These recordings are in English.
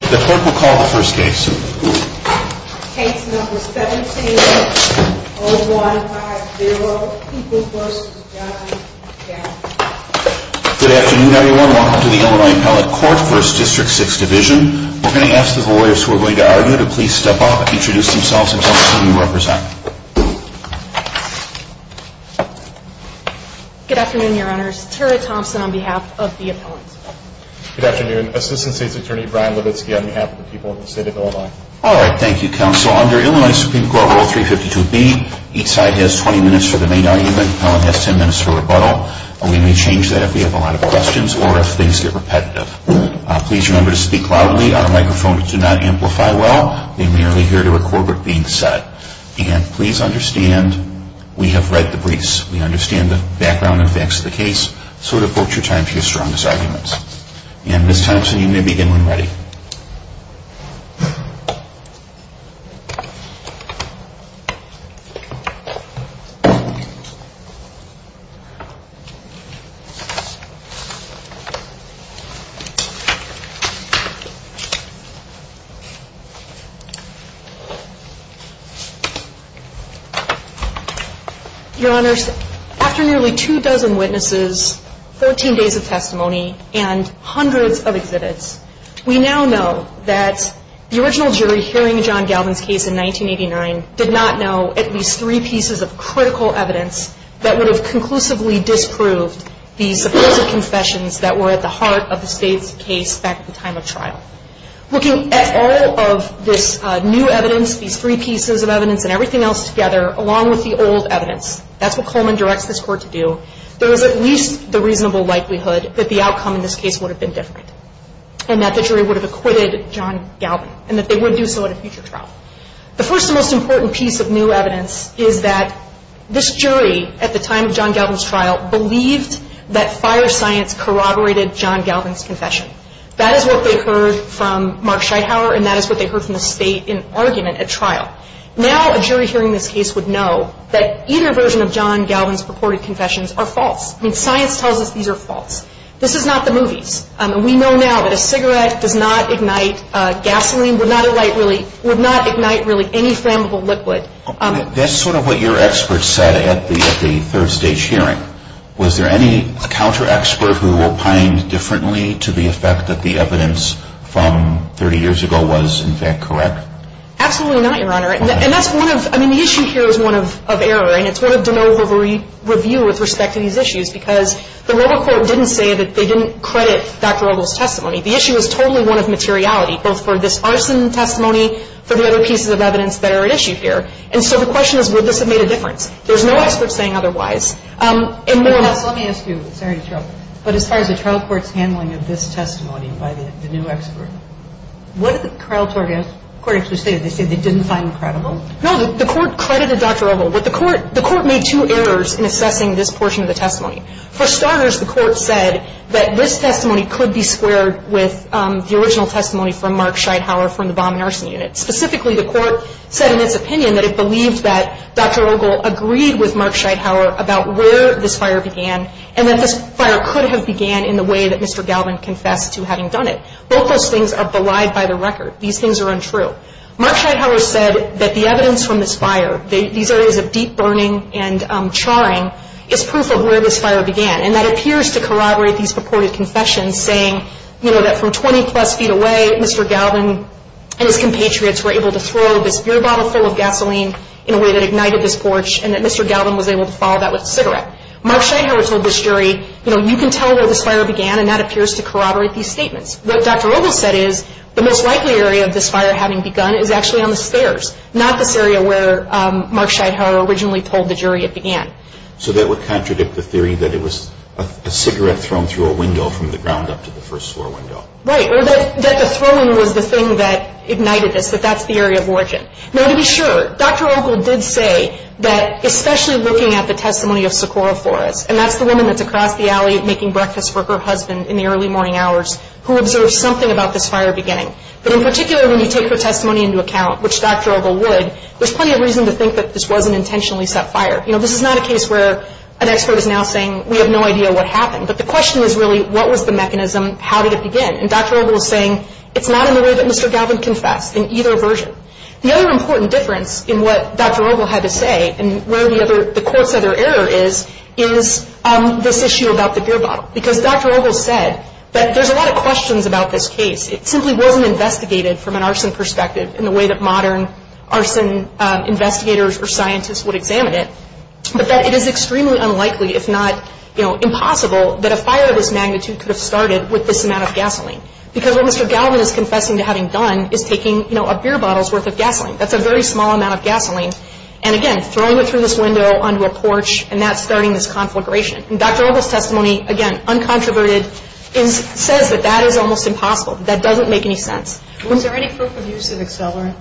The court will call the first case. Case number 17-0150. Good afternoon, everyone. Welcome to the Illinois Appellate Court, 1st District, 6th Division. We're going to ask the lawyers who are going to argue to please step up, introduce themselves, and tell us who you represent. Good afternoon, your honors. Tara Thompson on behalf of the appellant. Good afternoon. Assistant State's Attorney Brian Levitsky on behalf of the people of the state of Illinois. All right. Thank you, counsel. Under Illinois Supreme Court Rule 352B, each side has 20 minutes for the main argument. The appellant has 10 minutes for rebuttal. We may change that if we have a lot of questions or if things get repetitive. Please remember to speak loudly. Our microphones do not amplify well. They merely hear to record what is being said. And please understand, we have read the briefs. We understand the background and facts of the case. So devote your time to your strongest arguments. And Ms. Thompson, you may begin when ready. Thank you, your honor. Thank you, Ms. Thompson. We now know that the original jury hearing John Galvin's case in 1989 did not know at least three pieces of critical evidence that would have conclusively disproved the supposed confessions that were at the heart of the state's case back at the time of trial. Looking at all of this new evidence, these three pieces of evidence and everything else together, along with the old evidence, that's what Coleman directs this court to do, there is at least the reasonable likelihood that the outcome in this case would have been different and that the jury would have acquitted John Galvin and that they would do so at a future trial. The first and most important piece of new evidence is that this jury at the time of John Galvin's trial believed that fire science corroborated John Galvin's confession. That is what they heard from Mark Scheithauer and that is what they heard from the state in argument at trial. Now a jury hearing this case would know that either version of John Galvin's purported confessions are false. I mean, science tells us these are false. This is not the movies. We know now that a cigarette does not ignite gasoline, would not ignite really any flammable liquid. That's sort of what your experts said at the third stage hearing. Was there any counter-expert who opined differently to the effect that the evidence from 30 years ago was in fact correct? Absolutely not, Your Honor. And that's one of, I mean, the issue here is one of error and it's one of de novo review with respect to these issues because the Robocourt didn't say that they didn't credit Dr. Rubel's testimony. The issue is totally one of materiality, both for this arson testimony, for the other pieces of evidence that are at issue here. And so the question is would this have made a difference. There's no expert saying otherwise. Let me ask you, sorry to trouble you, but as far as the trial court's handling of this testimony by the new expert, what did the trial court actually say? Did they say they didn't find it credible? No, the court credited Dr. Rubel, but the court made two errors in assessing this portion of the testimony. For starters, the court said that this testimony could be squared with the original testimony from Mark Scheidhauer from the Bomb and Arson Unit. Specifically, the court said in its opinion that it believed that Dr. Rubel agreed with Mark Scheidhauer about where this fire began and that this fire could have began in the way that Mr. Galvin confessed to having done it. Both those things are belied by the record. These things are untrue. Mark Scheidhauer said that the evidence from this fire, these areas of deep burning and charring, is proof of where this fire began. And that appears to corroborate these purported confessions saying, you know, that from 20 plus feet away, Mr. Galvin and his compatriots were able to throw this beer bottle full of gasoline in a way that ignited this porch and that Mr. Galvin was able to follow that with a cigarette. Mark Scheidhauer told this jury, you know, you can tell where this fire began and that appears to corroborate these statements. What Dr. Rubel said is the most likely area of this fire having begun is actually on the stairs, not this area where Mark Scheidhauer originally told the jury it began. So that would contradict the theory that it was a cigarette thrown through a window from the ground up to the first floor window. Right. Or that the throwing was the thing that ignited this, that that's the area of origin. Now, to be sure, Dr. Ogle did say that especially looking at the testimony of Socorro Flores, and that's the woman that's across the alley making breakfast for her husband in the early morning hours, who observed something about this fire beginning. But in particular, when you take her testimony into account, which Dr. Ogle would, there's plenty of reason to think that this wasn't intentionally set fire. You know, this is not a case where an expert is now saying we have no idea what happened. But the question is really what was the mechanism? How did it begin? And Dr. Ogle is saying it's not in the way that Mr. Galvin confessed in either version. The other important difference in what Dr. Ogle had to say and where the other, the court's other error is, is this issue about the beer bottle. Because Dr. Ogle said that there's a lot of questions about this case. It simply wasn't investigated from an arson perspective in the way that modern arson investigators or scientists would examine it. But that it is extremely unlikely, if not, you know, impossible, that a fire of this magnitude could have started with this amount of gasoline. Because what Mr. Galvin is confessing to having done is taking, you know, a beer bottle's worth of gasoline. That's a very small amount of gasoline. And again, throwing it through this window onto a porch, and that's starting this conflagration. And Dr. Ogle's testimony, again, uncontroverted, is, says that that is almost impossible. That doesn't make any sense. Was there any proof of use of accelerant?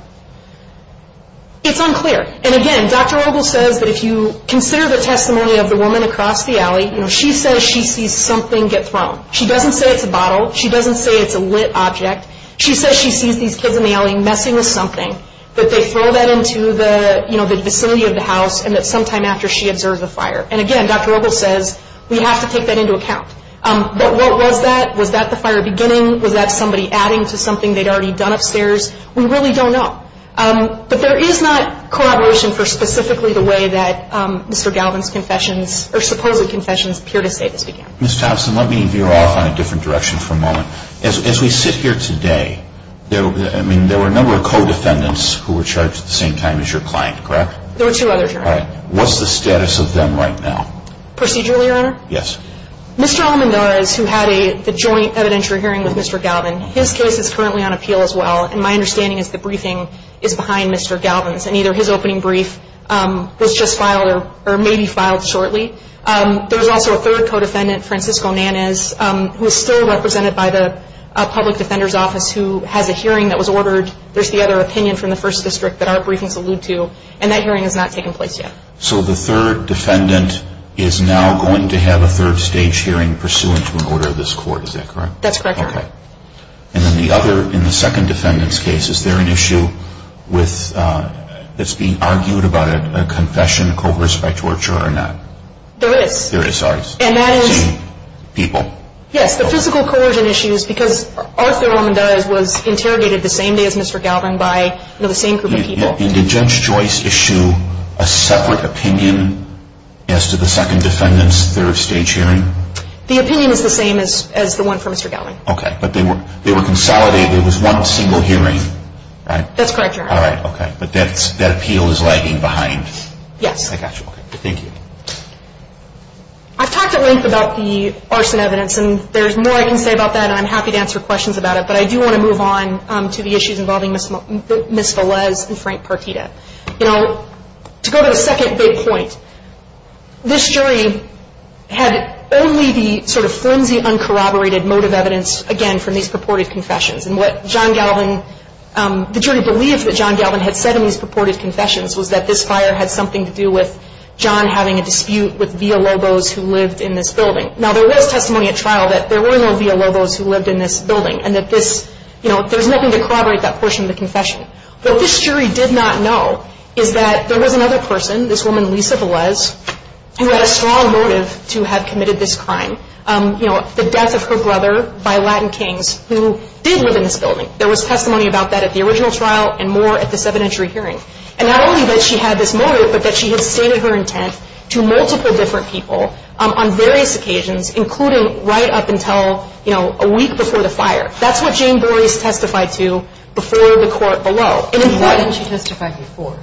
It's unclear. And again, Dr. Ogle says that if you consider the testimony of the woman across the alley, you know, she says she sees something get thrown. She doesn't say it's a bottle. She doesn't say it's a lit object. She says she sees these kids in the alley messing with something, that they throw that into the, you know, the vicinity of the house, and that sometime after she observes a fire. And again, Dr. Ogle says, we have to take that into account. But what was that? Was that the fire beginning? Was that somebody adding to something they'd already done upstairs? We really don't know. But there is not corroboration for specifically the way that Mr. Galvin's confessions, or supposed confessions, appear to say this began. Ms. Thompson, let me veer off on a different direction for a moment. As we sit here today, I mean, there were a number of co-defendants who were charged at the same time as your client, correct? There were two others, Your Honor. All right. What's the status of them right now? Procedurally, Your Honor? Yes. Mr. Almendarez, who had the joint evidentiary hearing with Mr. Galvin, his case is currently on appeal as well. And my understanding is the briefing is behind Mr. Galvin's, and either his opening brief was just filed or maybe filed shortly. There was also a third co-defendant, Francisco Nanez, who is still represented by the public defender's office, who has a hearing that was ordered. There's the other opinion from the First District that our briefings allude to, and that hearing has not taken place yet. So the third defendant is now going to have a third stage hearing pursuant to an order of this court, is that correct? That's correct, Your Honor. Okay. And then the other, in the second defendant's case, is there an issue that's being argued about a confession coerced by torture or not? There is. There is, sorry. And that is? People. Yes. The physical coercion issue is because Arthur Almendarez was interrogated the same day as Mr. Galvin by the same group of people. And did Judge Joyce issue a separate opinion as to the second defendant's third stage hearing? The opinion is the same as the one for Mr. Galvin. Okay. But they were consolidated. It was one single hearing, right? That's correct, Your Honor. All right. Okay. But that appeal is lagging behind. Yes. I got you. Okay. Thank you. I've talked at length about the arson evidence, and there's more I can say about that, and I'm happy to answer questions about it. But I do want to move on to the issues involving Ms. Velez and Frank Partita. You know, to go to the second big point, this jury had only the sort of flimsy, uncorroborated motive evidence, again, from these purported confessions. And what John Galvin, the jury believed that John Galvin had said in these purported confessions was that this fire had something to do with John having a dispute with Villalobos, who lived in this building. Now, there was testimony at trial that there were no Villalobos who lived in this building, and that this, you know, there's nothing to corroborate that portion of the confession. What this jury did not know is that there was another person, this woman, Lisa Velez, who had a strong motive to have committed this crime, you know, the death of her brother by Latin Kings, who did live in this building. There was testimony about that at the original trial and more at this evidentiary hearing. And not only that she had this motive, but that she had stated her intent to multiple different people on various occasions, including right up until, you know, a week before the fire. That's what Jane Boreas testified to before the court below. And in fact — Why didn't she testify before?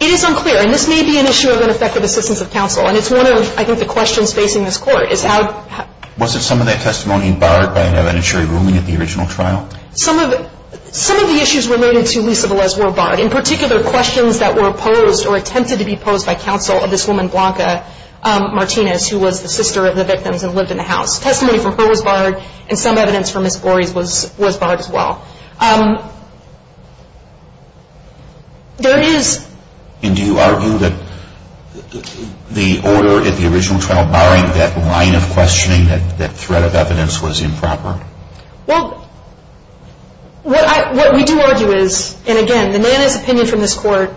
It is unclear. And this may be an issue of ineffective assistance of counsel. And it's one of, I think, the questions facing this Court is how — Wasn't some of that testimony barred by an evidentiary ruling at the original trial? Some of it — some of the issues related to Lisa Velez were barred. In particular, questions that were posed or attempted to be posed by counsel of this woman, Blanca Martinez, who was the sister of the victims and lived in the house. Testimony from her was barred and some evidence from Ms. Boreas was barred as well. There is — And do you argue that the order at the original trial barring that line of questioning, that threat of evidence, was improper? Well, what we do argue is — and again, the Nana's opinion from this Court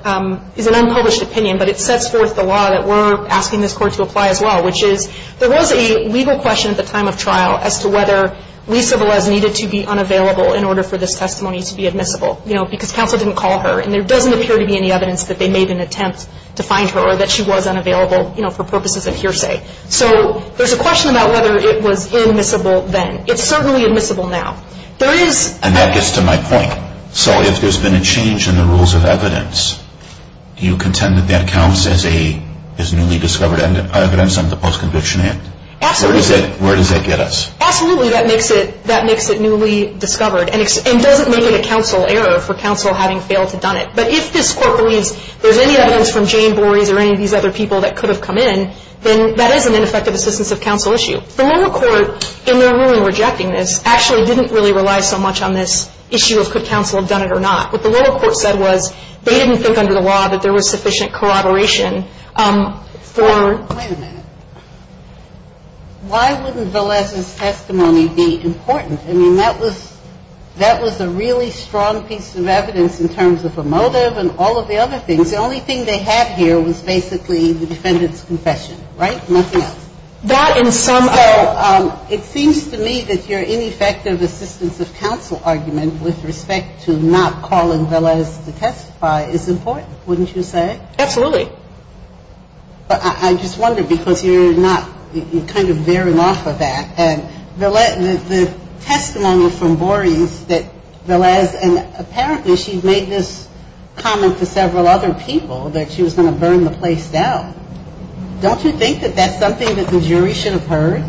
is an unpublished opinion, but it sets forth the law that we're asking this Court to apply as well, which is there was a legal question at the time of trial as to whether Lisa Velez needed to be unavailable in order for this testimony to be admissible, you know, because counsel didn't call her. And there doesn't appear to be any evidence that they made an attempt to find her or that she was unavailable, you know, for purposes of hearsay. So there's a question about whether it was admissible then. It's certainly admissible now. There is — And that gets to my point. So if there's been a change in the rules of evidence, do you contend that that counts as newly discovered evidence under the Post-Conviction Act? Absolutely. Where does that get us? Absolutely. That makes it newly discovered and doesn't make it a counsel error for counsel having failed to done it. But if this Court believes there's any evidence from Jane Boreas or any of these other people that could have come in, then that is an ineffective assistance of counsel issue. The lower court, in their ruling rejecting this, actually didn't really rely so much on this issue of could counsel have done it or not. What the lower court said was they didn't think under the law that there was sufficient corroboration for — Wait a minute. Why wouldn't Velez's testimony be important? I mean, that was a really strong piece of evidence in terms of a motive and all of the other things. The only thing they had here was basically the defendant's confession, right? Nothing else. That in some — So it seems to me that your ineffective assistance of counsel argument with respect to not calling Velez to testify is important, wouldn't you say? Absolutely. But I just wonder, because you're not — you're kind of veering off of that. And the testimony from Boreas that Velez — and apparently she made this comment to several other people that she was going to burn the place down. Don't you think that that's something that the jury should have heard?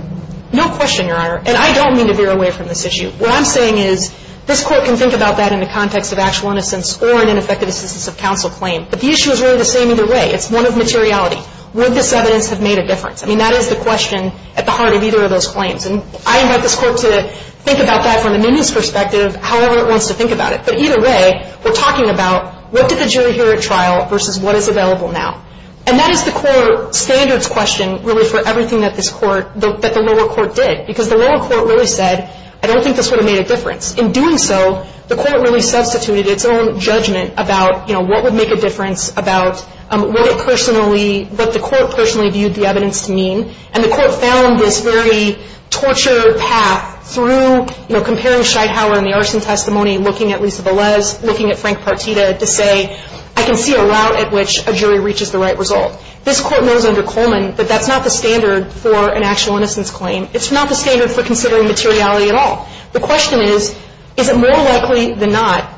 No question, Your Honor. And I don't mean to veer away from this issue. What I'm saying is this Court can think about that in the context of actual innocence or an ineffective assistance of counsel claim. But the issue is really the same either way. It's one of materiality. Would this evidence have made a difference? I mean, that is the question at the heart of either of those claims. And I invite this Court to think about that from a newness perspective, however it wants to think about it. But either way, we're talking about what did the jury hear at trial versus what is available now. And that is the core standards question, really, for everything that this Court — that the lower court did. Because the lower court really said, I don't think this would have made a difference. In doing so, the court really substituted its own judgment about, you know, what would make a difference, about what it personally — what the court personally viewed the evidence to mean. And the court found this very torture path through, you know, comparing Scheidhauer and the arson testimony, looking at Lisa Velez, looking at Frank Partita, to say, I can see a route at which a jury reaches the right result. This Court knows under Coleman that that's not the standard for an actual innocence claim. It's not the standard for considering materiality at all. The question is, is it more likely than not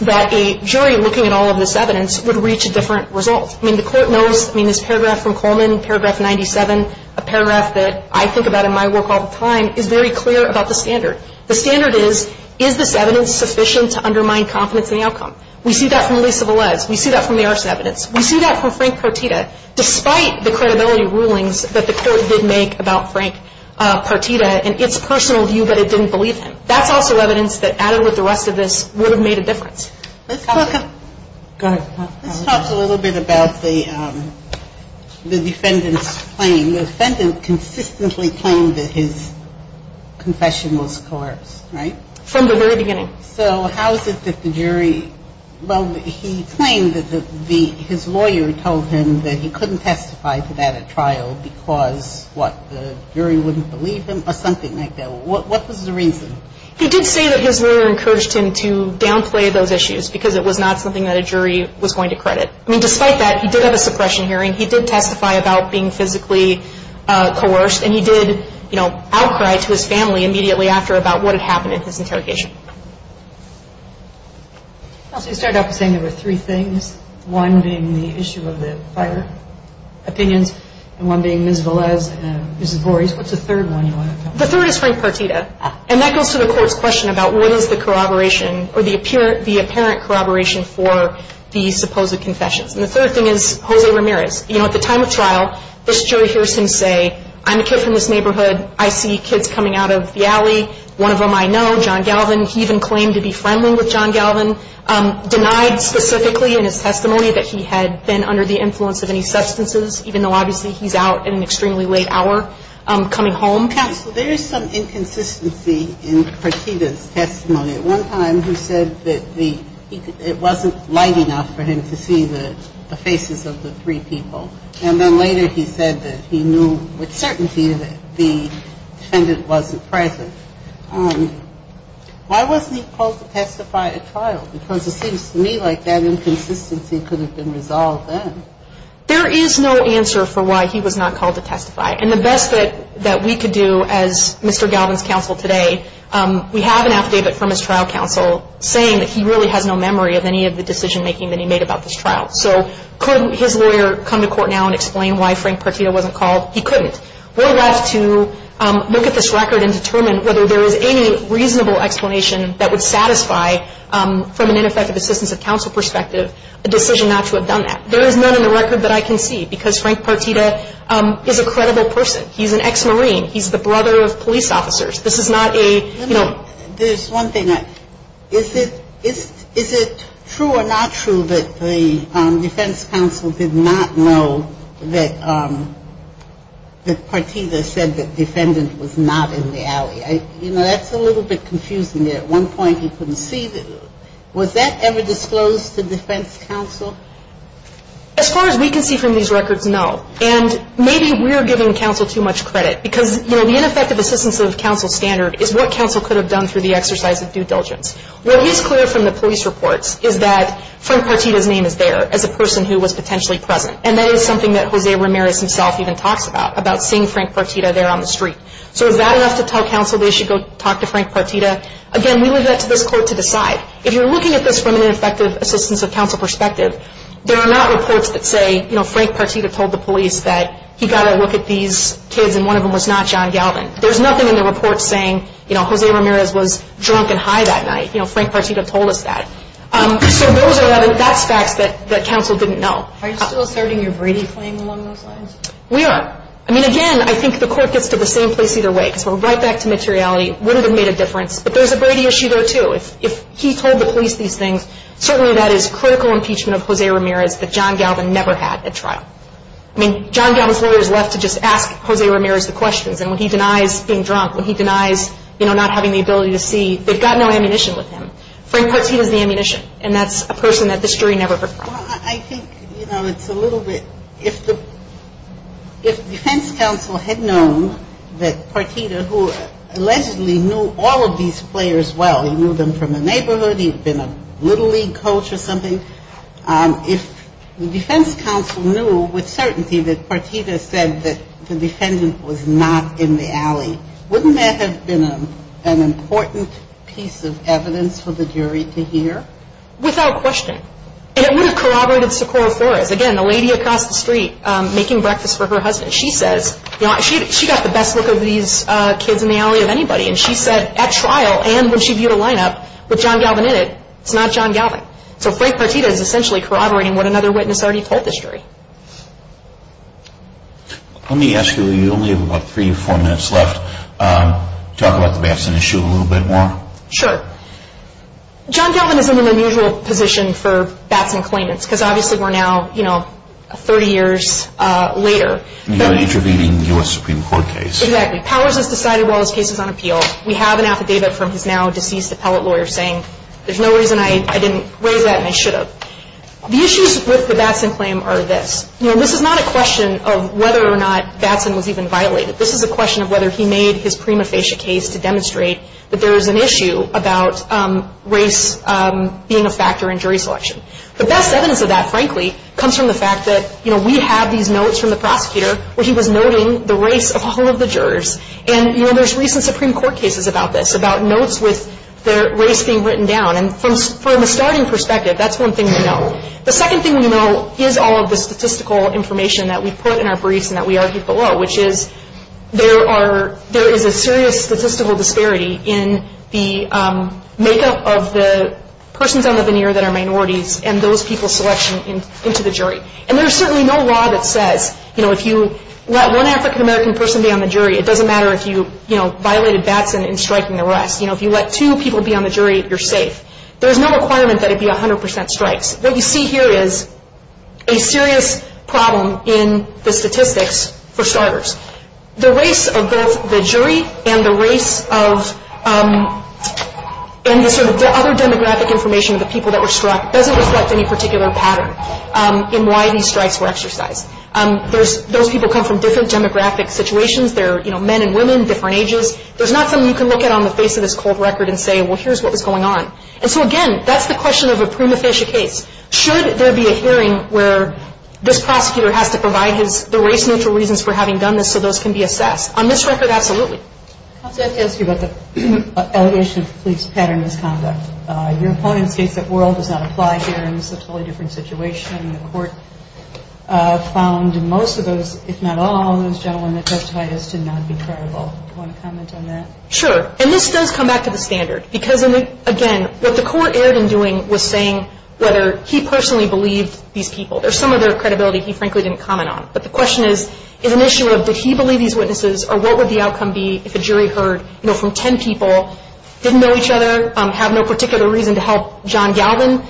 that a jury looking at all of this evidence would reach a different result? I mean, the Court knows — I mean, this paragraph from Coleman, paragraph 97, a paragraph that I think about in my work all the time, is very clear about the standard. The standard is, is this evidence sufficient to undermine confidence in the outcome? We see that from Lisa Velez. We see that from the arson evidence. We see that from Frank Partita, despite the credibility rulings that the Court did make about Frank Partita and its personal view that it didn't believe him. That's also evidence that added with the rest of this would have made a difference. Let's talk a little bit about the defendant's claim. The defendant consistently claimed that his confession was coerced, right? From the very beginning. So how is it that the jury — well, he claimed that his lawyer told him that he couldn't testify to that at trial because, what, the jury wouldn't believe him or something like that. What was the reason? He did say that his lawyer encouraged him to downplay those issues because it was not something that a jury was going to credit. I mean, despite that, he did have a suppression hearing. He did testify about being physically coerced, and he did, you know, outcry to his family immediately after about what had happened in his interrogation. You started off by saying there were three things, one being the issue of the fire opinions and one being Ms. Velez and Ms. Vores. What's the third one you want to talk about? The third is Frank Partita. And that goes to the Court's question about what is the corroboration or the apparent corroboration for the supposed confessions. And the third thing is Jose Ramirez. You know, at the time of trial, this jury hears him say, I'm a kid from this neighborhood. I see kids coming out of the alley. One of them I know, John Galvin. He even claimed to be friendly with John Galvin, denied specifically in his testimony that he had been under the influence of any substances, even though obviously he's out at an extremely late hour coming home. Counsel, there is some inconsistency in Partita's testimony. At one time he said that it wasn't light enough for him to see the faces of the three people. And then later he said that he knew with certainty that the defendant wasn't present. Why wasn't he called to testify at trial? Because it seems to me like that inconsistency could have been resolved then. There is no answer for why he was not called to testify. And the best that we could do as Mr. Galvin's counsel today, we have an affidavit from his trial counsel saying that he really has no memory of any of the decision making that he made about this trial. So could his lawyer come to court now and explain why Frank Partita wasn't called? He couldn't. We're left to look at this record and determine whether there is any reasonable explanation that would satisfy, from an ineffective assistance of counsel perspective, a decision not to have done that. There is none in the record that I can see because Frank Partita is a credible person. He's an ex-Marine. He's the brother of police officers. This is not a, you know. There's one thing. Is it true or not true that the defense counsel did not know that Partita said the defendant was not in the alley? You know, that's a little bit confusing there. At one point he couldn't see. Was that ever disclosed to defense counsel? As far as we can see from these records, no. And maybe we're giving counsel too much credit because, you know, the ineffective assistance of counsel standard is what counsel could have done through the exercise of due diligence. What is clear from the police reports is that Frank Partita's name is there as a person who was potentially present. And that is something that Jose Ramirez himself even talks about, about seeing Frank Partita there on the street. So is that enough to tell counsel they should go talk to Frank Partita? Again, we leave that to this court to decide. If you're looking at this from an ineffective assistance of counsel perspective, there are not reports that say, you know, Frank Partita told the police that he got a look at these kids and one of them was not John Galvin. There's nothing in the report saying, you know, Jose Ramirez was drunk and high that night. You know, Frank Partita told us that. So those are the facts that counsel didn't know. Are you still asserting your Brady claim along those lines? We are. I mean, again, I think the court gets to the same place either way. Because we're right back to materiality. Would it have made a difference? But there's a Brady issue there too. If he told the police these things, certainly that is critical impeachment of Jose Ramirez that John Galvin never had at trial. I mean, John Galvin's lawyer is left to just ask Jose Ramirez the questions. And when he denies being drunk, when he denies, you know, not having the ability to see, they've got no ammunition with him. Frank Partita's the ammunition. And that's a person that this jury never preferred. Well, I think, you know, it's a little bit, if the defense counsel had known that Partita, who allegedly knew all of these players well, he knew them from the neighborhood, he'd been a little league coach or something. If the defense counsel knew with certainty that Partita said that the defendant was not in the alley, wouldn't that have been an important piece of evidence for the jury to hear? Without question. And it would have corroborated Socorro Flores. Again, the lady across the street making breakfast for her husband. She says, you know, she got the best look of these kids in the alley of anybody. And she said at trial and when she viewed a lineup with John Galvin in it, it's not John Galvin. So Frank Partita is essentially corroborating what another witness already told the jury. Let me ask you, you only have about three or four minutes left. Talk about the Batson issue a little bit more. Sure. John Galvin is in an unusual position for Batson claimants because obviously we're now, you know, 30 years later. You're interviewing a U.S. Supreme Court case. Exactly. Powers is decided while his case is on appeal. We have an affidavit from his now deceased appellate lawyer saying there's no reason I didn't raise that and I should have. The issues with the Batson claim are this. You know, this is not a question of whether or not Batson was even violated. This is a question of whether he made his prima facie case to demonstrate that there is an issue about race being a factor in jury selection. The best evidence of that, frankly, comes from the fact that, you know, we have these notes from the prosecutor where he was noting the race of all of the jurors. And, you know, there's recent Supreme Court cases about this, about notes with race being written down. And from a starting perspective, that's one thing we know. The second thing we know is all of the statistical information that we put in our briefs and that we argue below, which is there is a serious statistical disparity in the makeup of the persons on the veneer that are minorities and those people's selection into the jury. And there is certainly no law that says, you know, let one African-American person be on the jury. It doesn't matter if you, you know, violated Batson in striking the rest. You know, if you let two people be on the jury, you're safe. There's no requirement that it be 100 percent strikes. What you see here is a serious problem in the statistics for starters. The race of both the jury and the race of any sort of other demographic information of the people that were struck doesn't reflect any particular pattern in why these strikes were exercised. Those people come from different demographic situations. They're, you know, men and women, different ages. There's not something you can look at on the face of this cold record and say, well, here's what was going on. And so, again, that's the question of a prima facie case. Should there be a hearing where this prosecutor has to provide the race-neutral reasons for having done this so those can be assessed? On this record, absolutely. I'd like to ask you about the allegation of police pattern misconduct. Your opponent states that world does not apply here, and this is a totally different situation. The court found most of those, if not all of those gentlemen that testified, as to not be credible. Do you want to comment on that? Sure. And this does come back to the standard because, again, what the court erred in doing was saying whether he personally believed these people. There's some other credibility he frankly didn't comment on. But the question is, is an issue of did he believe these witnesses or what would the outcome be if a jury heard, you know, from 10 people, didn't know each other, have no particular reason to help John Galvin?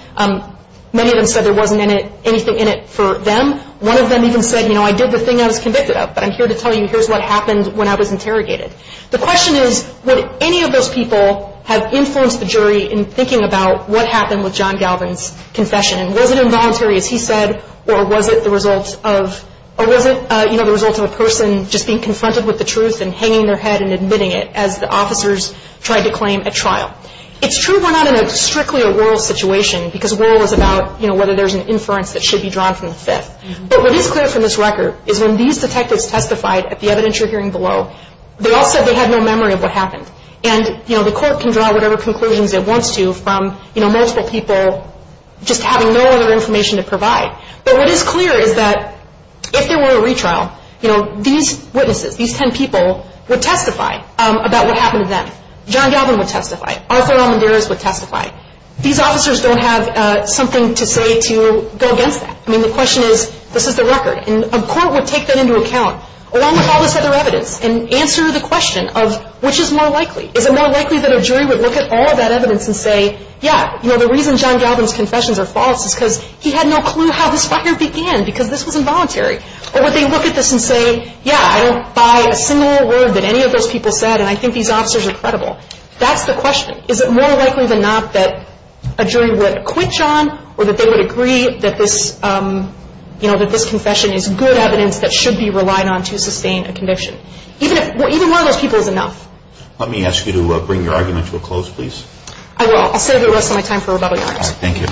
Many of them said there wasn't anything in it for them. One of them even said, you know, I did the thing I was convicted of, but I'm here to tell you here's what happened when I was interrogated. The question is, would any of those people have influenced the jury in thinking about what happened with John Galvin's confession? And was it involuntary, as he said, or was it the result of a person just being confronted with the truth and hanging their head and admitting it as the officers tried to claim at trial? It's true we're not in a strictly a rural situation because rural is about, you know, whether there's an inference that should be drawn from the Fifth. But what is clear from this record is when these detectives testified at the evidentiary hearing below, they all said they had no memory of what happened. And, you know, the court can draw whatever conclusions it wants to from, you know, multiple people just having no other information to provide. But what is clear is that if there were a retrial, you know, these witnesses, these ten people, would testify about what happened to them. John Galvin would testify. Arthur Almendarez would testify. These officers don't have something to say to go against that. I mean, the question is, this is the record. And a court would take that into account along with all this other evidence and answer the question of which is more likely. Is it more likely that a jury would look at all of that evidence and say, yeah, you know, the reason John Galvin's confessions are false is because he had no clue how this fire began because this was involuntary. Or would they look at this and say, yeah, I don't buy a single word that any of those people said, and I think these officers are credible. That's the question. Is it more likely than not that a jury would quit John or that they would agree that this, you know, that this confession is good evidence that should be relied on to sustain a conviction? Even one of those people is enough. Let me ask you to bring your argument to a close, please. I will. I'll set up the rest of my time for rebuttal, Your Honor. Thank you.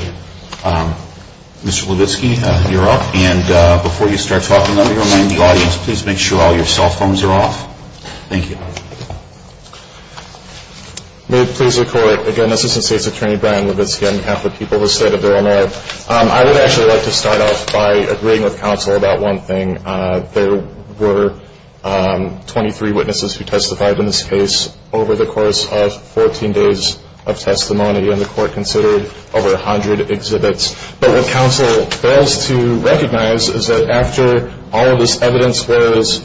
Mr. Levitsky, you're up. And before you start talking, let me remind the audience, please make sure all your cell phones are off. Thank you. May it please the Court. Again, Assistant State's Attorney Brian Levitsky on behalf of the people who stated their own error. I would actually like to start off by agreeing with counsel about one thing. There were 23 witnesses who testified in this case over the course of 14 days of testimony, and the Court considered over 100 exhibits. But what counsel fails to recognize is that after all of this evidence was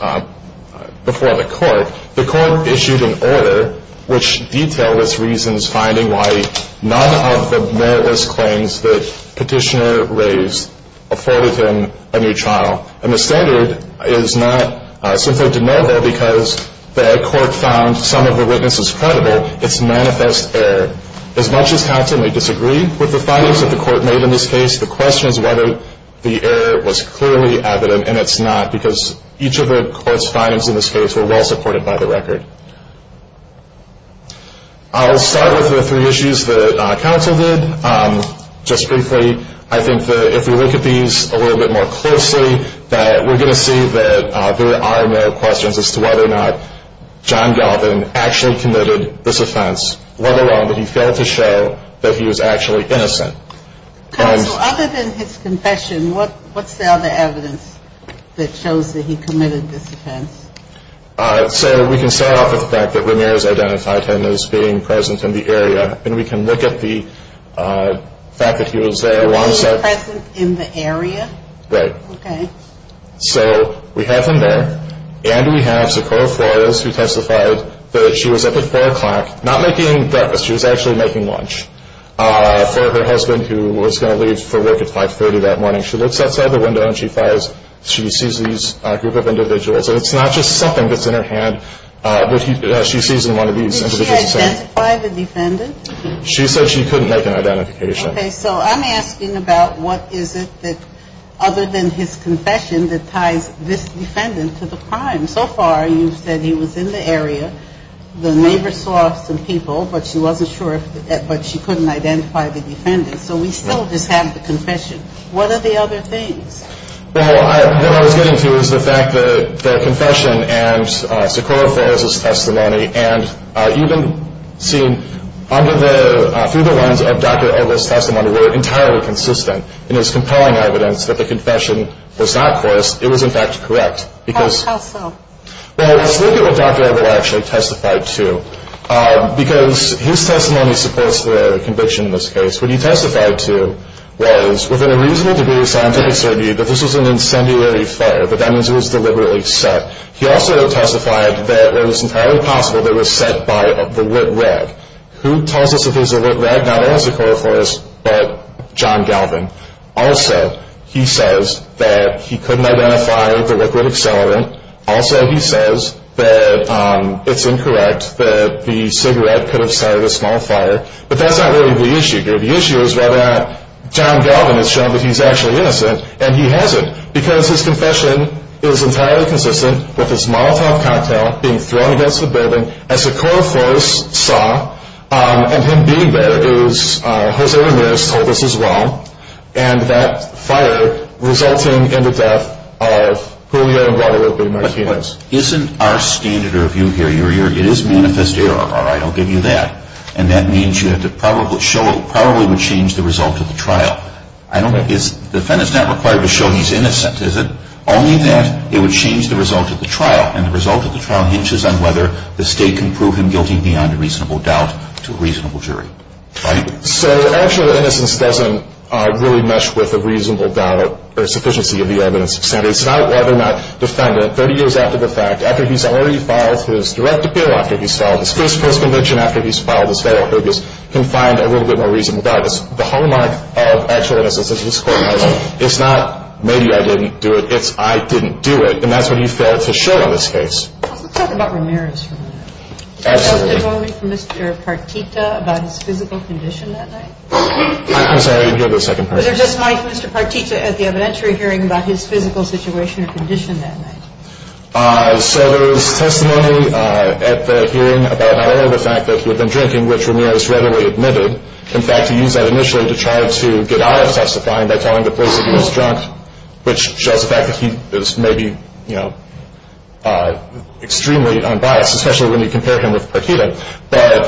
before the Court, the Court issued an order which detailed its reasons finding why none of the more or less claims that Petitioner raised afforded him a new trial. And the standard is not simply deniable because the Court found some of the witnesses credible. It's manifest error. As much as counsel may disagree with the findings that the Court made in this case, the question is whether the error was clearly evident, and it's not, because each of the Court's findings in this case were well supported by the record. I'll start with the three issues that counsel did. Just briefly, I think that if we look at these a little bit more closely, that we're going to see that there are no questions as to whether or not John Galvin actually committed this offense, let alone that he failed to show that he was actually innocent. Counsel, other than his confession, what's the other evidence that shows that he committed this offense? So we can start off with the fact that Ramirez identified him as being present in the area, and we can look at the fact that he was there. He was present in the area? Right. Okay. So we have him there, and we have Socorro Flores, who testified that she was up at 4 o'clock, not making breakfast. She was actually making lunch for her husband, who was going to leave for work at 5.30 that morning. She looks outside the window, and she sees these group of individuals, and it's not just something that's in her hand that she sees in one of these individuals. Did she identify the defendant? She said she couldn't make an identification. Okay. So I'm asking about what is it that, other than his confession, that ties this defendant to the crime. So far, you've said he was in the area. The neighbor saw some people, but she wasn't sure, but she couldn't identify the defendant. So we still just have the confession. What are the other things? Well, what I was getting to is the fact that the confession and Socorro Flores' testimony, and even seen through the lens of Dr. Edel's testimony, were entirely consistent in his compelling evidence that the confession was not coerced. It was, in fact, correct. How so? Well, let's look at what Dr. Edel actually testified to, because his testimony supports the conviction in this case. What he testified to was, within a reasonable degree of scientific certainty, that this was an incendiary fire, but that means it was deliberately set. He also testified that it was entirely possible that it was set by the lit rag. Who tells us if it was a lit rag? Not only Socorro Flores, but John Galvin. Also, he says that he couldn't identify the liquid accelerant. Also, he says that it's incorrect, that the cigarette could have started a small fire. But that's not really the issue here. The issue is whether John Galvin has shown that he's actually innocent, and he hasn't, because his confession is entirely consistent with his Molotov cocktail being thrown against the building, as Socorro Flores saw, and him being there, as Jose Ramirez told us as well, and that fire resulting in the death of Julio and Guadalupe Martinez. Isn't our standard of view here, it is manifest error, all right, I'll give you that, and that means you have to probably show it probably would change the result of the trial. I don't think it's, the defendant's not required to show he's innocent, is it? Only that it would change the result of the trial, and the result of the trial hinges on whether the state can prove him guilty beyond a reasonable doubt to a reasonable jury. So actual innocence doesn't really mesh with a reasonable doubt or sufficiency of the evidence. It's not whether or not the defendant, 30 years after the fact, after he's already filed his direct appeal, after he's filed his first conviction, after he's filed his federal appeals, can find a little bit more reasonable doubt. It's the hallmark of actual innocence. It's not maybe I didn't do it, it's I didn't do it, and that's what he failed to show in this case. Let's talk about Ramirez for a minute. Absolutely. Was there testimony from Mr. Partita about his physical condition that night? I'm sorry, I didn't hear the second part. Was there just Mike, Mr. Partita at the evidentiary hearing about his physical situation or condition that night? So there was testimony at the hearing about not only the fact that he had been drinking, which Ramirez readily admitted. In fact, he used that initially to try to get out of testifying by telling the police that he was drunk, which shows the fact that he is maybe, you know, extremely unbiased, especially when you compare him with Partita. But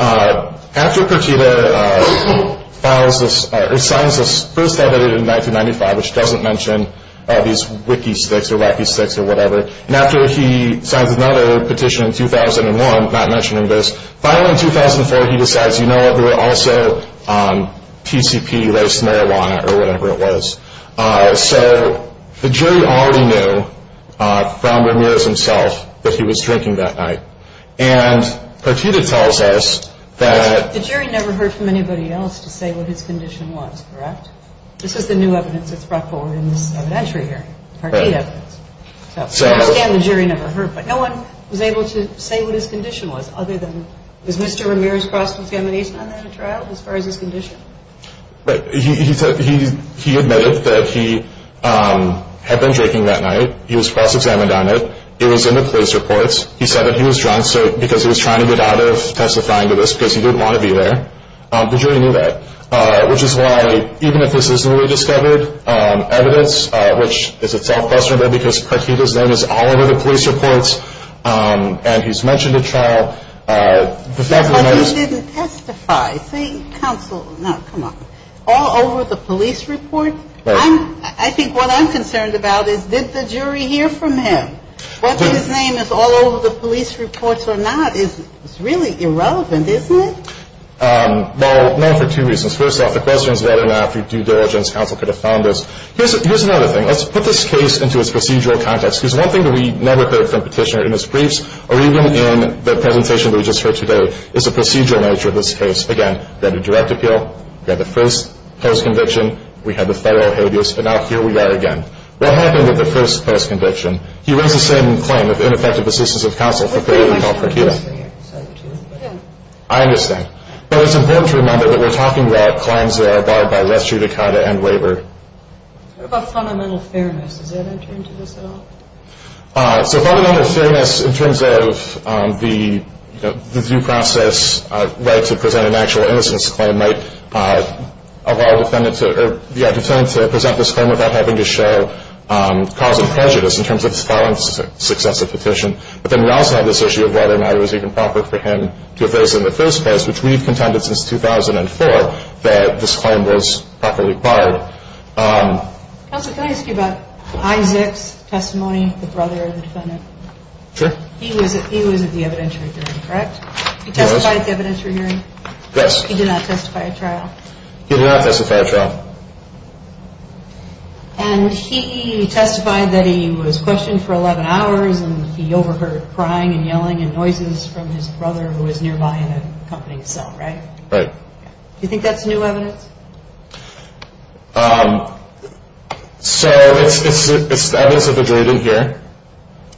after Partita files this or signs this first edited in 1995, which doesn't mention all these wiki sticks or wacky sticks or whatever, and after he signs another petition in 2001 not mentioning this, finally in 2004 he decides, you know what, there were also TCP-based marijuana or whatever it was. So the jury already knew from Ramirez himself that he was drinking that night. And Partita tells us that... The jury never heard from anybody else to say what his condition was, correct? This is the new evidence that's brought forward in this evidentiary hearing, Partita evidence. So we understand the jury never heard, but no one was able to say what his condition was other than was Mr. Ramirez cross-examined on that at trial as far as his condition? He admitted that he had been drinking that night. He was cross-examined on it. It was in the police reports. He said that he was drunk because he was trying to get out of testifying to this because he didn't want to be there. The jury knew that, which is why even if this isn't rediscovered evidence, which is itself questionable because Partita's name is all over the police reports and he's mentioned at trial. But he didn't testify. See, counsel, now come on. All over the police report? Right. I think what I'm concerned about is did the jury hear from him? Whether his name is all over the police reports or not is really irrelevant, isn't it? Well, no, for two reasons. First off, the question is whether or not through due diligence counsel could have found this. Here's another thing. Let's put this case into its procedural context. Because one thing that we never heard from Petitioner in his briefs or even in the presentation that we just heard today is the procedural nature of this case. Again, we had a direct appeal. We had the first post-conviction. We had the federal habeas. And now here we are again. What happened at the first post-conviction? He raised the same claim of ineffective assistance of counsel for failure to call Partita. I understand. But it's important to remember that we're talking about claims that are barred by less judicata and waiver. What about fundamental fairness? Does that enter into this at all? So fundamental fairness in terms of the due process right to present an actual innocence claim might allow a defendant to present this claim without having to show cause of prejudice in terms of filing successive petition. But then we also have this issue of whether or not it was even proper for him to have raised it in the first place, which we've contended since 2004 that this claim was properly barred. Counsel, can I ask you about Isaac's testimony, the brother of the defendant? Sure. He was at the evidentiary hearing, correct? He was. He testified at the evidentiary hearing? Yes. He did not testify at trial? He did not testify at trial. And he testified that he was questioned for 11 hours, and he overheard crying and yelling and noises from his brother who was nearby in an accompanying cell, right? Right. Do you think that's new evidence? So it's the evidence that the jury didn't hear.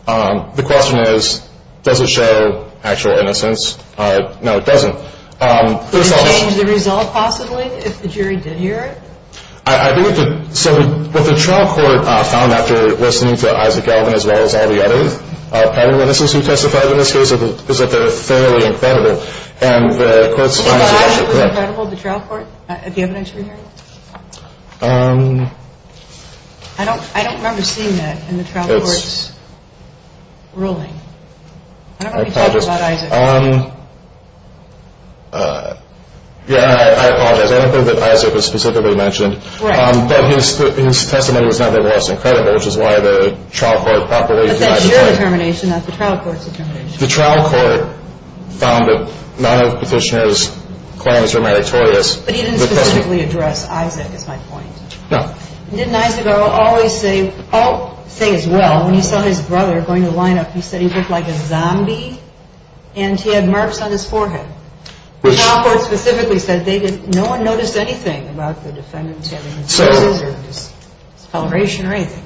The question is, does it show actual innocence? No, it doesn't. Would it change the result possibly if the jury did hear it? I believe that what the trial court found after listening to Isaac Elvin as well as all the others, all the witnesses who testified in this case, is that they're fairly incredible. Do you think that Isaac was incredible, the trial court, at the evidentiary hearing? I don't remember seeing that in the trial court's ruling. I don't know if you talked about Isaac. Yeah, I apologize. I don't think that Isaac was specifically mentioned. Right. But his testimony was not that he was incredible, which is why the trial court properly denied it. But that's your determination, not the trial court's determination. The trial court found that none of Petitioner's claims were meritorious. But he didn't specifically address Isaac, is my point. No. Didn't Isaac Elvin always say, say as well, when he saw his brother going to the lineup, he said he looked like a zombie and he had marks on his forehead? The trial court specifically said no one noticed anything about the defendant having bruises or discoloration or anything.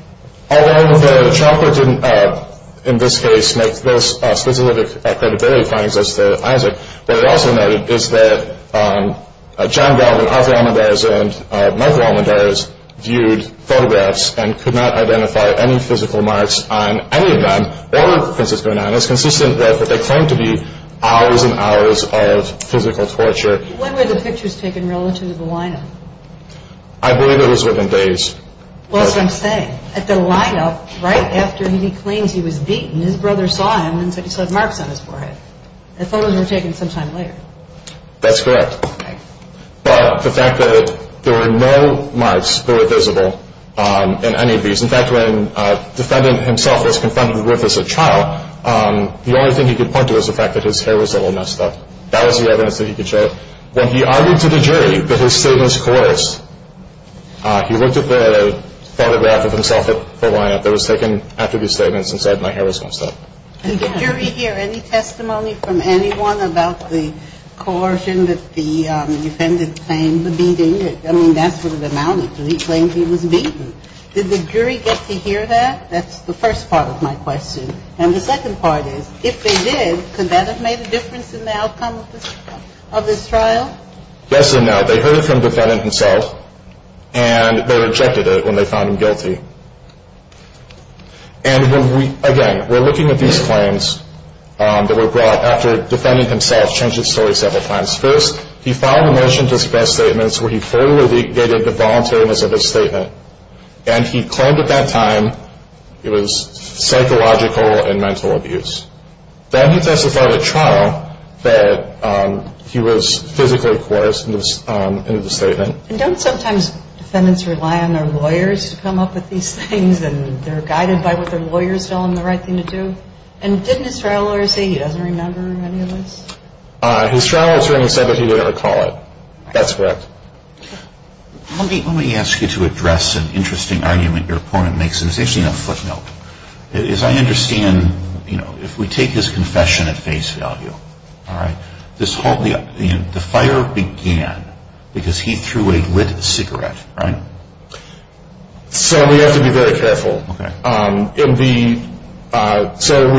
Although the trial court didn't, in this case, make those specific credibility findings as to Isaac, what it also noted is that John Galvin, Arthur Almendarez, and Michael Almendarez viewed photographs and could not identify any physical marks on any of them or Francisco Ananas, consistent with what they claimed to be hours and hours of physical torture. When were the pictures taken relative to the lineup? I believe it was within days. Well, that's what I'm saying. At the lineup, right after he claims he was beaten, his brother saw him and said he saw marks on his forehead. The photos were taken sometime later. That's correct. Okay. But the fact that there were no marks that were visible in any of these, in fact, when the defendant himself was confronted with as a child, the only thing he could point to was the fact that his hair was a little messed up. That was the evidence that he could show. When he argued to the jury that his statements coerced, he looked at the photograph of himself at the lineup that was taken after his statements and said my hair was messed up. Did the jury hear any testimony from anyone about the coercion that the defendant claimed to be doing? I mean, that's what it amounted to. He claimed he was beaten. Did the jury get to hear that? That's the first part of my question. And the second part is, if they did, could that have made a difference in the outcome of this trial? Yes and no. They heard it from the defendant himself, and they rejected it when they found him guilty. And, again, we're looking at these claims that were brought after the defendant himself changed his story several times. First, he filed a motion to suppress statements where he fully negated the voluntariness of his statement, and he claimed at that time it was psychological and mental abuse. Then he testified at trial that he was physically coerced into the statement. And don't sometimes defendants rely on their lawyers to come up with these things, and they're guided by what their lawyers tell them the right thing to do? And didn't his trial lawyer say he doesn't remember any of this? His trial attorney said that he didn't recall it. That's correct. Let me ask you to address an interesting argument your opponent makes. It's actually a footnote. As I understand, if we take his confession at face value, the fire began because he threw a lit cigarette, right? So we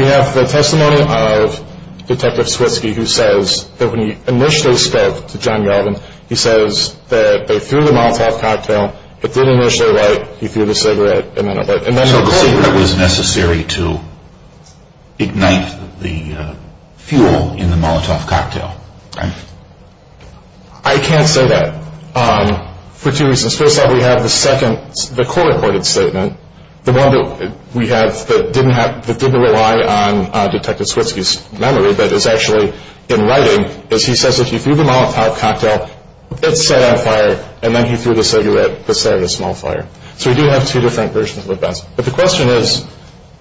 have the testimony of Detective Switsky who says that when he initially spoke to John Yelvin, he says that they threw the Molotov cocktail, it didn't initially light, he threw the cigarette, and then it lit. So the cigarette was necessary to ignite the fuel in the Molotov cocktail, right? I can't say that for two reasons. First off, we have the second, the court-reported statement, the one that we have that didn't rely on Detective Switsky's memory but is actually in writing, is he says that he threw the Molotov cocktail, it set on fire, and then he threw the cigarette, but set it on a small fire. So we do have two different versions of events. But the question is,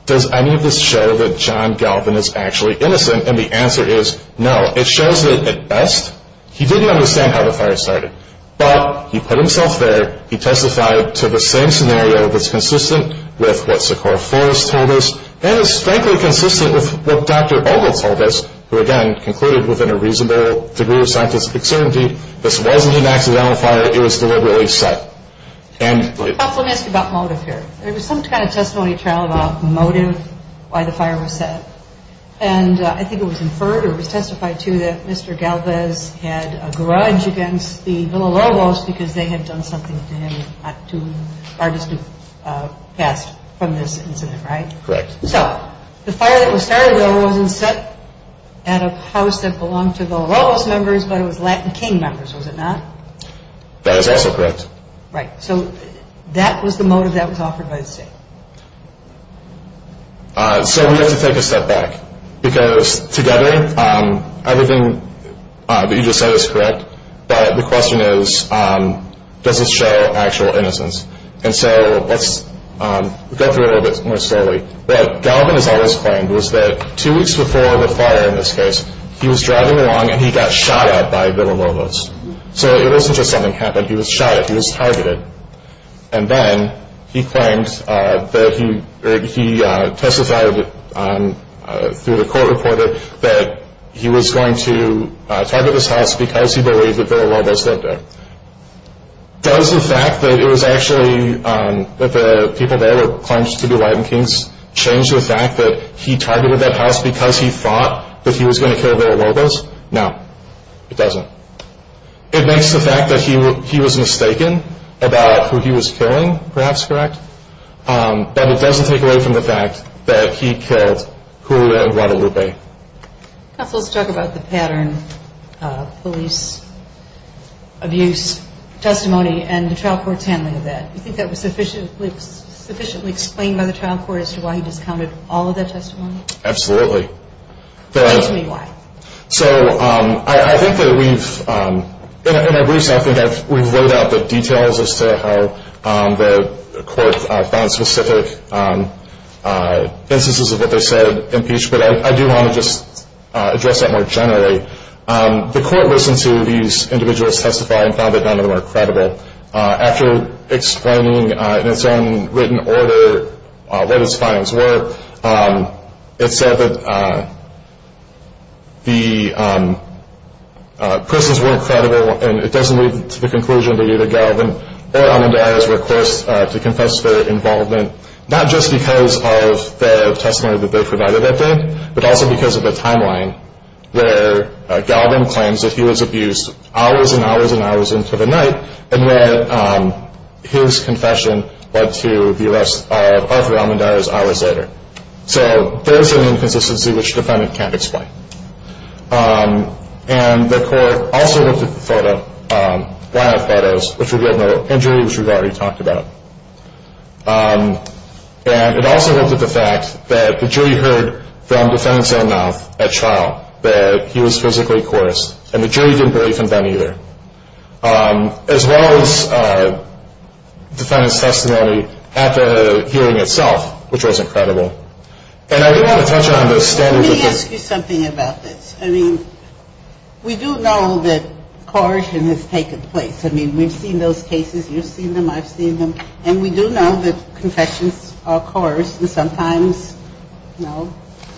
does any of this show that John Yelvin is actually innocent? And the answer is no. It shows that, at best, he didn't understand how the fire started. But he put himself there. He testified to the same scenario that's consistent with what Sikora Forrest told us and is, frankly, consistent with what Dr. Bogle told us, who, again, concluded within a reasonable degree of scientific certainty, this wasn't an accidental fire, it was deliberately set. Let me ask you about motive here. There was some kind of testimony trial about motive, why the fire was set. And I think it was inferred or it was testified to that Mr. Galvez had a grudge against the Villalobos because they had done something to him not too far distant past from this incident, right? Correct. So the fire that was started, though, wasn't set at a house that belonged to Villalobos members, but it was Latin King members, was it not? That is also correct. Right. So that was the motive that was offered by the state. So we have to take a step back because, together, everything that you just said is correct, but the question is does it show actual innocence? And so let's go through it a little bit more slowly. What Galvez always claimed was that two weeks before the fire, in this case, he was driving along and he got shot at by Villalobos. So it wasn't just something happened. He was shot at. He was targeted. And then he testified through the court reporter that he was going to target this house because he believed that Villalobos lived there. Does the fact that it was actually the people there that claimed to be Latin Kings change the fact that he targeted that house because he thought that he was going to kill Villalobos? No, it doesn't. It makes the fact that he was mistaken about who he was killing perhaps correct, but it doesn't take away from the fact that he killed Julia and Guadalupe. Counsel, let's talk about the pattern of police abuse testimony and the trial court's handling of that. Do you think that was sufficiently explained by the trial court as to why he discounted all of that testimony? Absolutely. Explain to me why. So I think that we've, in our briefs I think we've laid out the details as to how the court found specific instances of what they said impeached, but I do want to just address that more generally. The court listened to these individuals testify and found that none of them are credible. After explaining in its own written order what its findings were, it said that the persons weren't credible, and it doesn't lead to the conclusion that either Galvin or Almendara's request to confess for involvement, not just because of the testimony that they provided that day, but also because of the timeline where Galvin claims that he was abused hours and hours and hours into the night and that his confession led to the arrest of Arthur Almendara's hours later. So there is an inconsistency which the defendant can't explain. And the court also looked at the photo, one of the photos, which revealed no injury, which we've already talked about. And it also looked at the fact that the jury heard from the defendant's own mouth at trial that he was physically coerced, and the jury didn't believe him then either. As well as defendant's testimony at the hearing itself, which wasn't credible. And I didn't want to touch on the standards of the... Let me ask you something about this. I mean, we do know that coercion has taken place. I mean, we've seen those cases. You've seen them. I've seen them. And we do know that confessions are coerced, and sometimes, you know,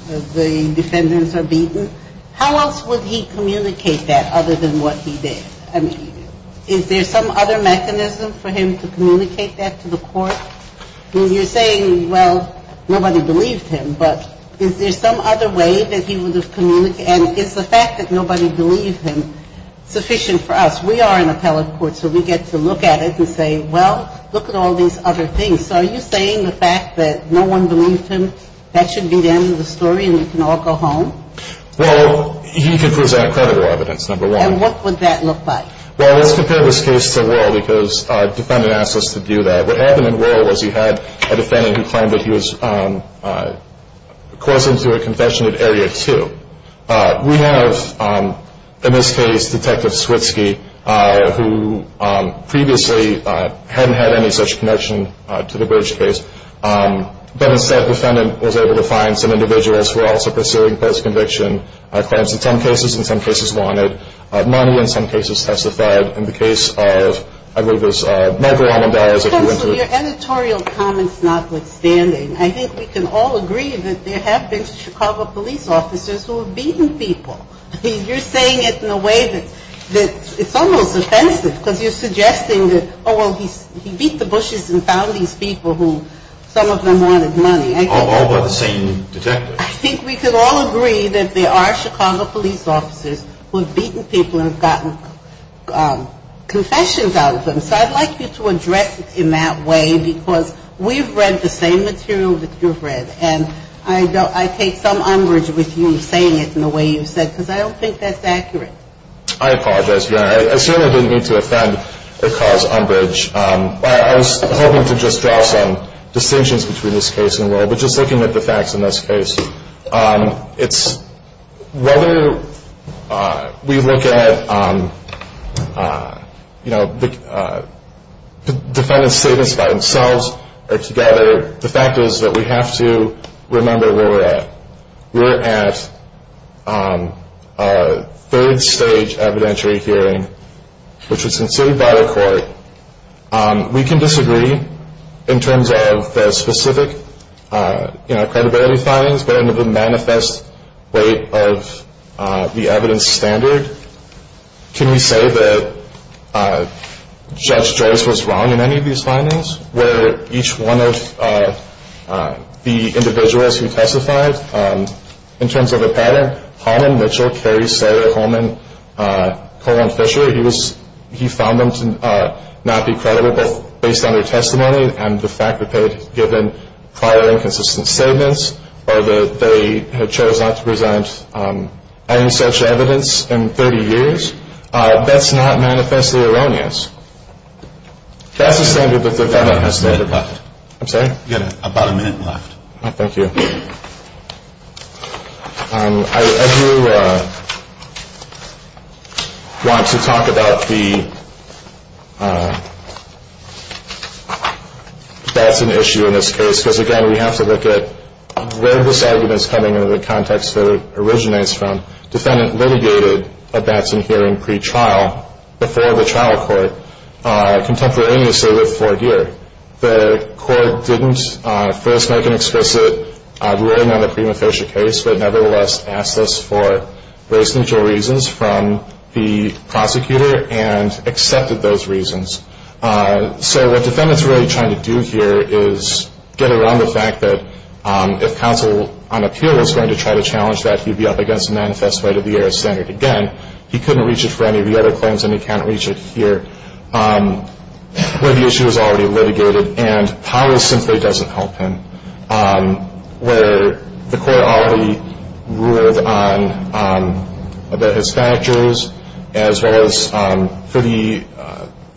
the defendants are beaten. How else would he communicate that other than what he did? I mean, is there some other mechanism for him to communicate that to the court? I mean, you're saying, well, nobody believed him. But is there some other way that he would have communicated? And is the fact that nobody believed him sufficient for us? We are an appellate court, so we get to look at it and say, well, look at all these other things. So are you saying the fact that no one believed him, that should be the end of the story and we can all go home? Well, he could present credible evidence, number one. And what would that look like? Well, let's compare this case to Wuerl because the defendant asked us to do that. What happened in Wuerl was he had a defendant who claimed that he was coercing to a confession at Area 2. We have, in this case, Detective Switsky, who previously hadn't had any such connection to the Burge case. But instead, the defendant was able to find some individuals who were also pursuing post-conviction claims. In some cases, in some cases wanted. Money, in some cases, testified. In the case of, I believe it was Michael Almendarez. Counsel, your editorial comment is notwithstanding. I think we can all agree that there have been Chicago police officers who have beaten people. You're saying it in a way that it's almost offensive because you're suggesting that, oh, well, he beat the bushes and found these people who some of them wanted money. All by the same detective. I think we can all agree that there are Chicago police officers who have beaten people and gotten confessions out of them. So I'd like you to address it in that way because we've read the same material that you've read. And I take some umbrage with you saying it in the way you've said it because I don't think that's accurate. I apologize, Your Honor. I certainly didn't mean to offend or cause umbrage. I was hoping to just draw some distinctions between this case and Will, but just looking at the facts in this case, it's whether we look at the defendant's statements by themselves or together, the fact is that we have to remember where we're at. We're at a third stage evidentiary hearing, which was conceded by the court. We can disagree in terms of the specific credibility findings, but in the manifest way of the evidence standard, can we say that Judge Joyce was wrong in any of these findings? Were each one of the individuals who testified, in terms of a pattern, Holman, Mitchell, Carey, Sutter, Holman, Cole, and Fisher, he found them to not be credible based on their testimony and the fact that they had given prior inconsistent statements or that they had chosen not to present any such evidence in 30 years? That's not manifestly erroneous. That's the standard that the defendant has stated. You have about a minute left. I'm sorry? You have about a minute left. Oh, thank you. If you want to talk about the Batson issue in this case, because, again, we have to look at where this argument is coming into the context that it originates from. Defendant litigated a Batson hearing pretrial before the trial court, contemporaneously with Fort Geer. The court didn't first make an explicit ruling on the prima facie case, but nevertheless asked us for race neutral reasons from the prosecutor and accepted those reasons. So what defendants are really trying to do here is get around the fact that if counsel on appeal was going to try to challenge that, he'd be up against the manifest right of the air as standard again. He couldn't reach it for any of the other claims, and he can't reach it here, where the issue is already litigated. And power simply doesn't help him. Where the court already ruled on his factors, as well as for the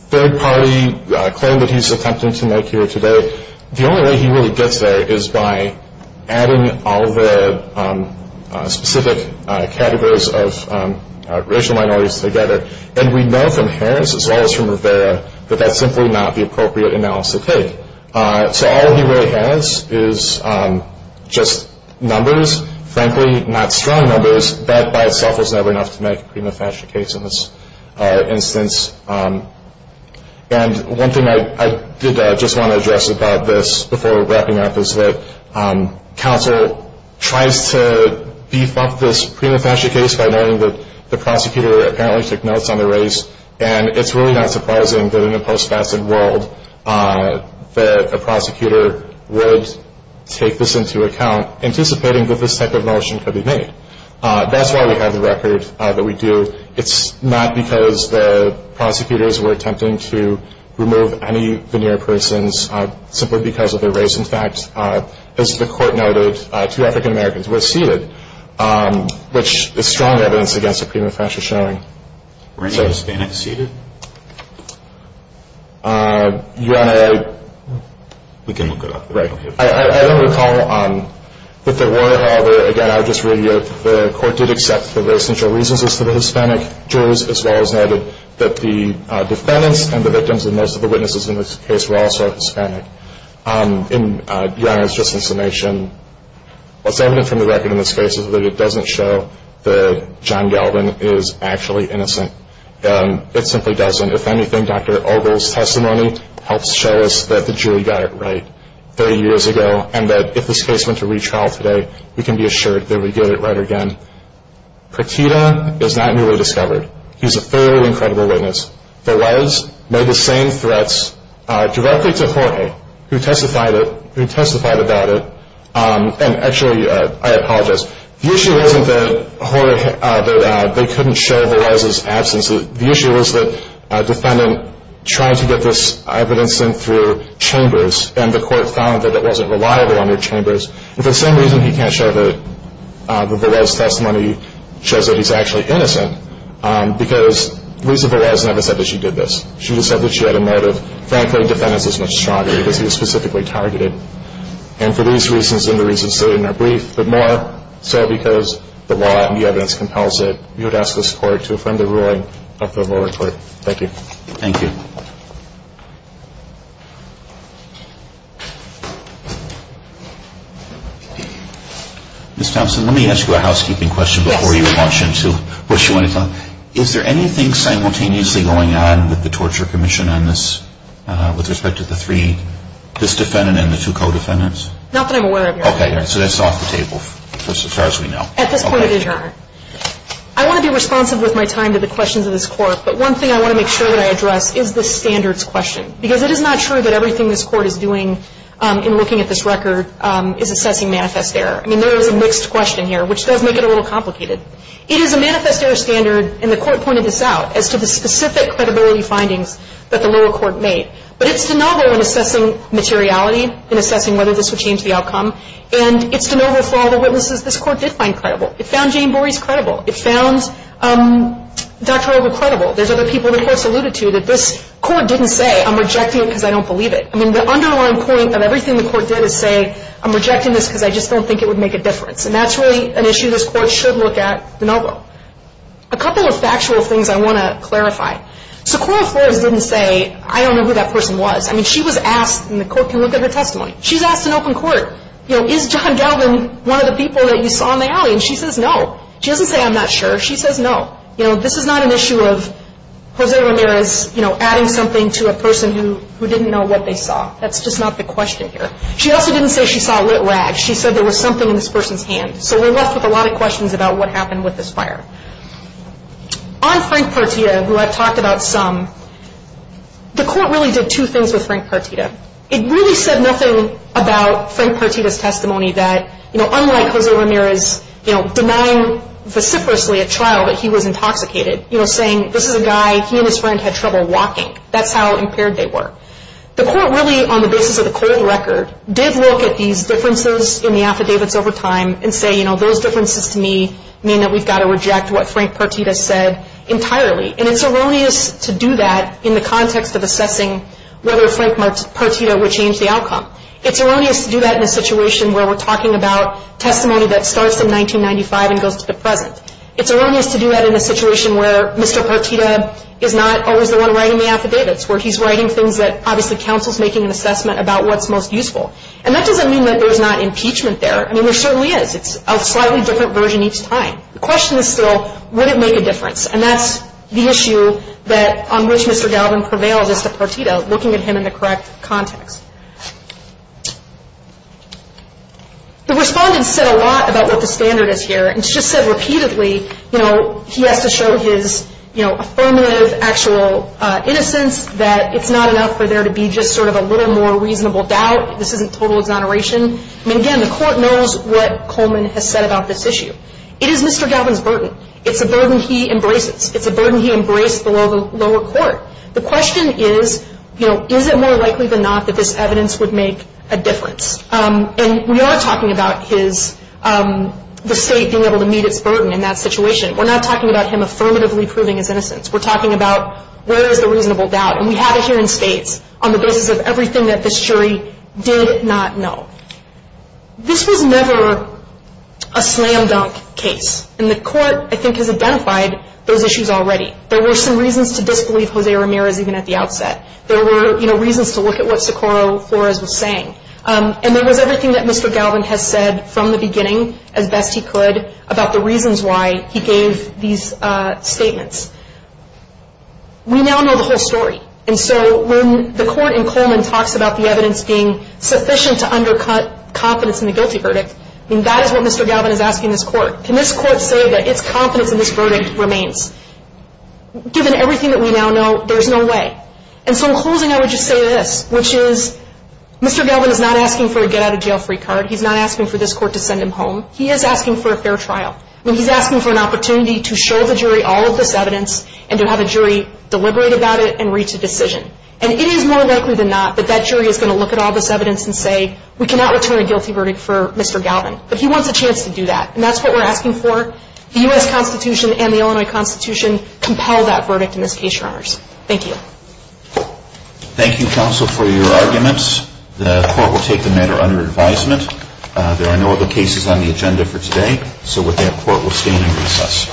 third-party claim that he's attempting to make here today, the only way he really gets there is by adding all the specific categories of racial minorities together. And we know from Harris, as well as from Rivera, that that's simply not the appropriate analysis to take. So all he really has is just numbers, frankly not strong numbers, but by itself was never enough to make a prima facie case in this instance. And one thing I did just want to address about this before wrapping up is that counsel tries to beef up this prima facie case by knowing that the prosecutor apparently took notes on the race, and it's really not surprising that in a post-facet world that a prosecutor would take this into account, anticipating that this type of motion could be made. That's why we have the record that we do. It's not because the prosecutors were attempting to remove any veneer persons simply because of their race. In fact, as the court noted, two African Americans were seated, which is strong evidence against a prima facie showing. Were any Hispanics seated? Your Honor, I don't recall that there were. However, again, I would just reiterate that the court did accept that there were essential reasons as to the Hispanic jurors, as well as noted that the defendants and the victims and most of the witnesses in this case were also Hispanic. Your Honor, just in summation, what's evident from the record in this case is that it doesn't show that John Galvin is actually innocent. It simply doesn't. If anything, Dr. Ogle's testimony helps show us that the jury got it right 30 years ago, and that if this case went to retrial today, we can be assured that we get it right again. Prakita is not newly discovered. He's a thoroughly incredible witness. Velez made the same threats directly to Jorge, who testified about it. And actually, I apologize, the issue wasn't that they couldn't show Velez's absence. The issue was that a defendant tried to get this evidence in through chambers, and the court found that it wasn't reliable under chambers. For the same reason he can't show that Velez's testimony shows that he's actually innocent, because Lisa Velez never said that she did this. She just said that she had a motive. Frankly, defendants are much stronger because he was specifically targeted. And for these reasons and the reasons stated in our brief, but more so because the law and the evidence compels it, we would ask this Court to affirm the ruling of the lower court. Thank you. Ms. Thompson, let me ask you a housekeeping question before you launch into what you want to talk about. Is there anything simultaneously going on with the Torture Commission on this, with respect to the three, this defendant and the two co-defendants? Not that I'm aware of, Your Honor. Okay. So that's off the table, as far as we know. At this point, it is, Your Honor. I want to be responsive with my time to the questions of this Court, because it is not true that everything this Court is doing in looking at this record is assessing manifest error. I mean, there is a mixed question here, which does make it a little complicated. It is a manifest error standard, and the Court pointed this out, as to the specific credibility findings that the lower court made. But it's de novo in assessing materiality, in assessing whether this would change the outcome, and it's de novo for all the witnesses this Court did find credible. It found Jane Borey's credible. It found Dr. Over credible. There's other people the Court's alluded to that this Court didn't say, I'm rejecting it because I don't believe it. I mean, the underlying point of everything the Court did is say, I'm rejecting this because I just don't think it would make a difference. And that's really an issue this Court should look at de novo. A couple of factual things I want to clarify. So Coral Flores didn't say, I don't know who that person was. I mean, she was asked, and the Court can look at her testimony. She's asked in open court, you know, is John Gelbin one of the people that you saw in the alley? And she says, no. She doesn't say, I'm not sure. She says, no. You know, this is not an issue of Jose Ramirez, you know, adding something to a person who didn't know what they saw. That's just not the question here. She also didn't say she saw lit rags. She said there was something in this person's hand. So we're left with a lot of questions about what happened with this fire. On Frank Partita, who I've talked about some, the Court really did two things with Frank Partita. It really said nothing about Frank Partita's testimony that, you know, unlike Jose Ramirez, you know, denying vociferously at trial that he was intoxicated, you know, saying this is a guy, he and his friend had trouble walking. That's how impaired they were. The Court really, on the basis of the cold record, did look at these differences in the affidavits over time and say, you know, those differences to me mean that we've got to reject what Frank Partita said entirely. And it's erroneous to do that in the context of assessing whether Frank Partita would change the outcome. It's erroneous to do that in a situation where we're talking about testimony that starts in 1995 and goes to the present. It's erroneous to do that in a situation where Mr. Partita is not always the one writing the affidavits, where he's writing things that obviously counsel's making an assessment about what's most useful. And that doesn't mean that there's not impeachment there. I mean, there certainly is. It's a slightly different version each time. The question is still, would it make a difference? And that's the issue on which Mr. Galvin prevails as to Partita, looking at him in the correct context. The Respondents said a lot about what the standard is here. And it's just said repeatedly, you know, he has to show his, you know, affirmative, actual innocence, that it's not enough for there to be just sort of a little more reasonable doubt. This isn't total exoneration. I mean, again, the Court knows what Coleman has said about this issue. It is Mr. Galvin's burden. It's a burden he embraces. It's a burden he embraced below the lower court. The question is, you know, is it more likely than not that this evidence would make a difference? And we are talking about his, the State being able to meet its burden in that situation. We're not talking about him affirmatively proving his innocence. We're talking about where is the reasonable doubt. And we have it here in States on the basis of everything that this jury did not know. This was never a slam dunk case. And the Court, I think, has identified those issues already. There were some reasons to disbelieve Jose Ramirez even at the outset. There were, you know, reasons to look at what Socorro Flores was saying. And there was everything that Mr. Galvin has said from the beginning as best he could about the reasons why he gave these statements. We now know the whole story. And so when the Court in Coleman talks about the evidence being sufficient to undercut confidence in the guilty verdict, I mean, that is what Mr. Galvin is asking this Court. Can this Court say that its confidence in this verdict remains? Given everything that we now know, there's no way. And so in closing, I would just say this, which is Mr. Galvin is not asking for a get-out-of-jail-free card. He's not asking for this Court to send him home. He is asking for a fair trial. I mean, he's asking for an opportunity to show the jury all of this evidence and to have a jury deliberate about it and reach a decision. And it is more likely than not that that jury is going to look at all this evidence and say, we cannot return a guilty verdict for Mr. Galvin. But he wants a chance to do that. And that's what we're asking for. The U.S. Constitution and the Illinois Constitution compel that verdict in this case, Your Honors. Thank you. Thank you, Counsel, for your arguments. The Court will take the matter under advisement. There are no other cases on the agenda for today, so with that, Court will stand in recess.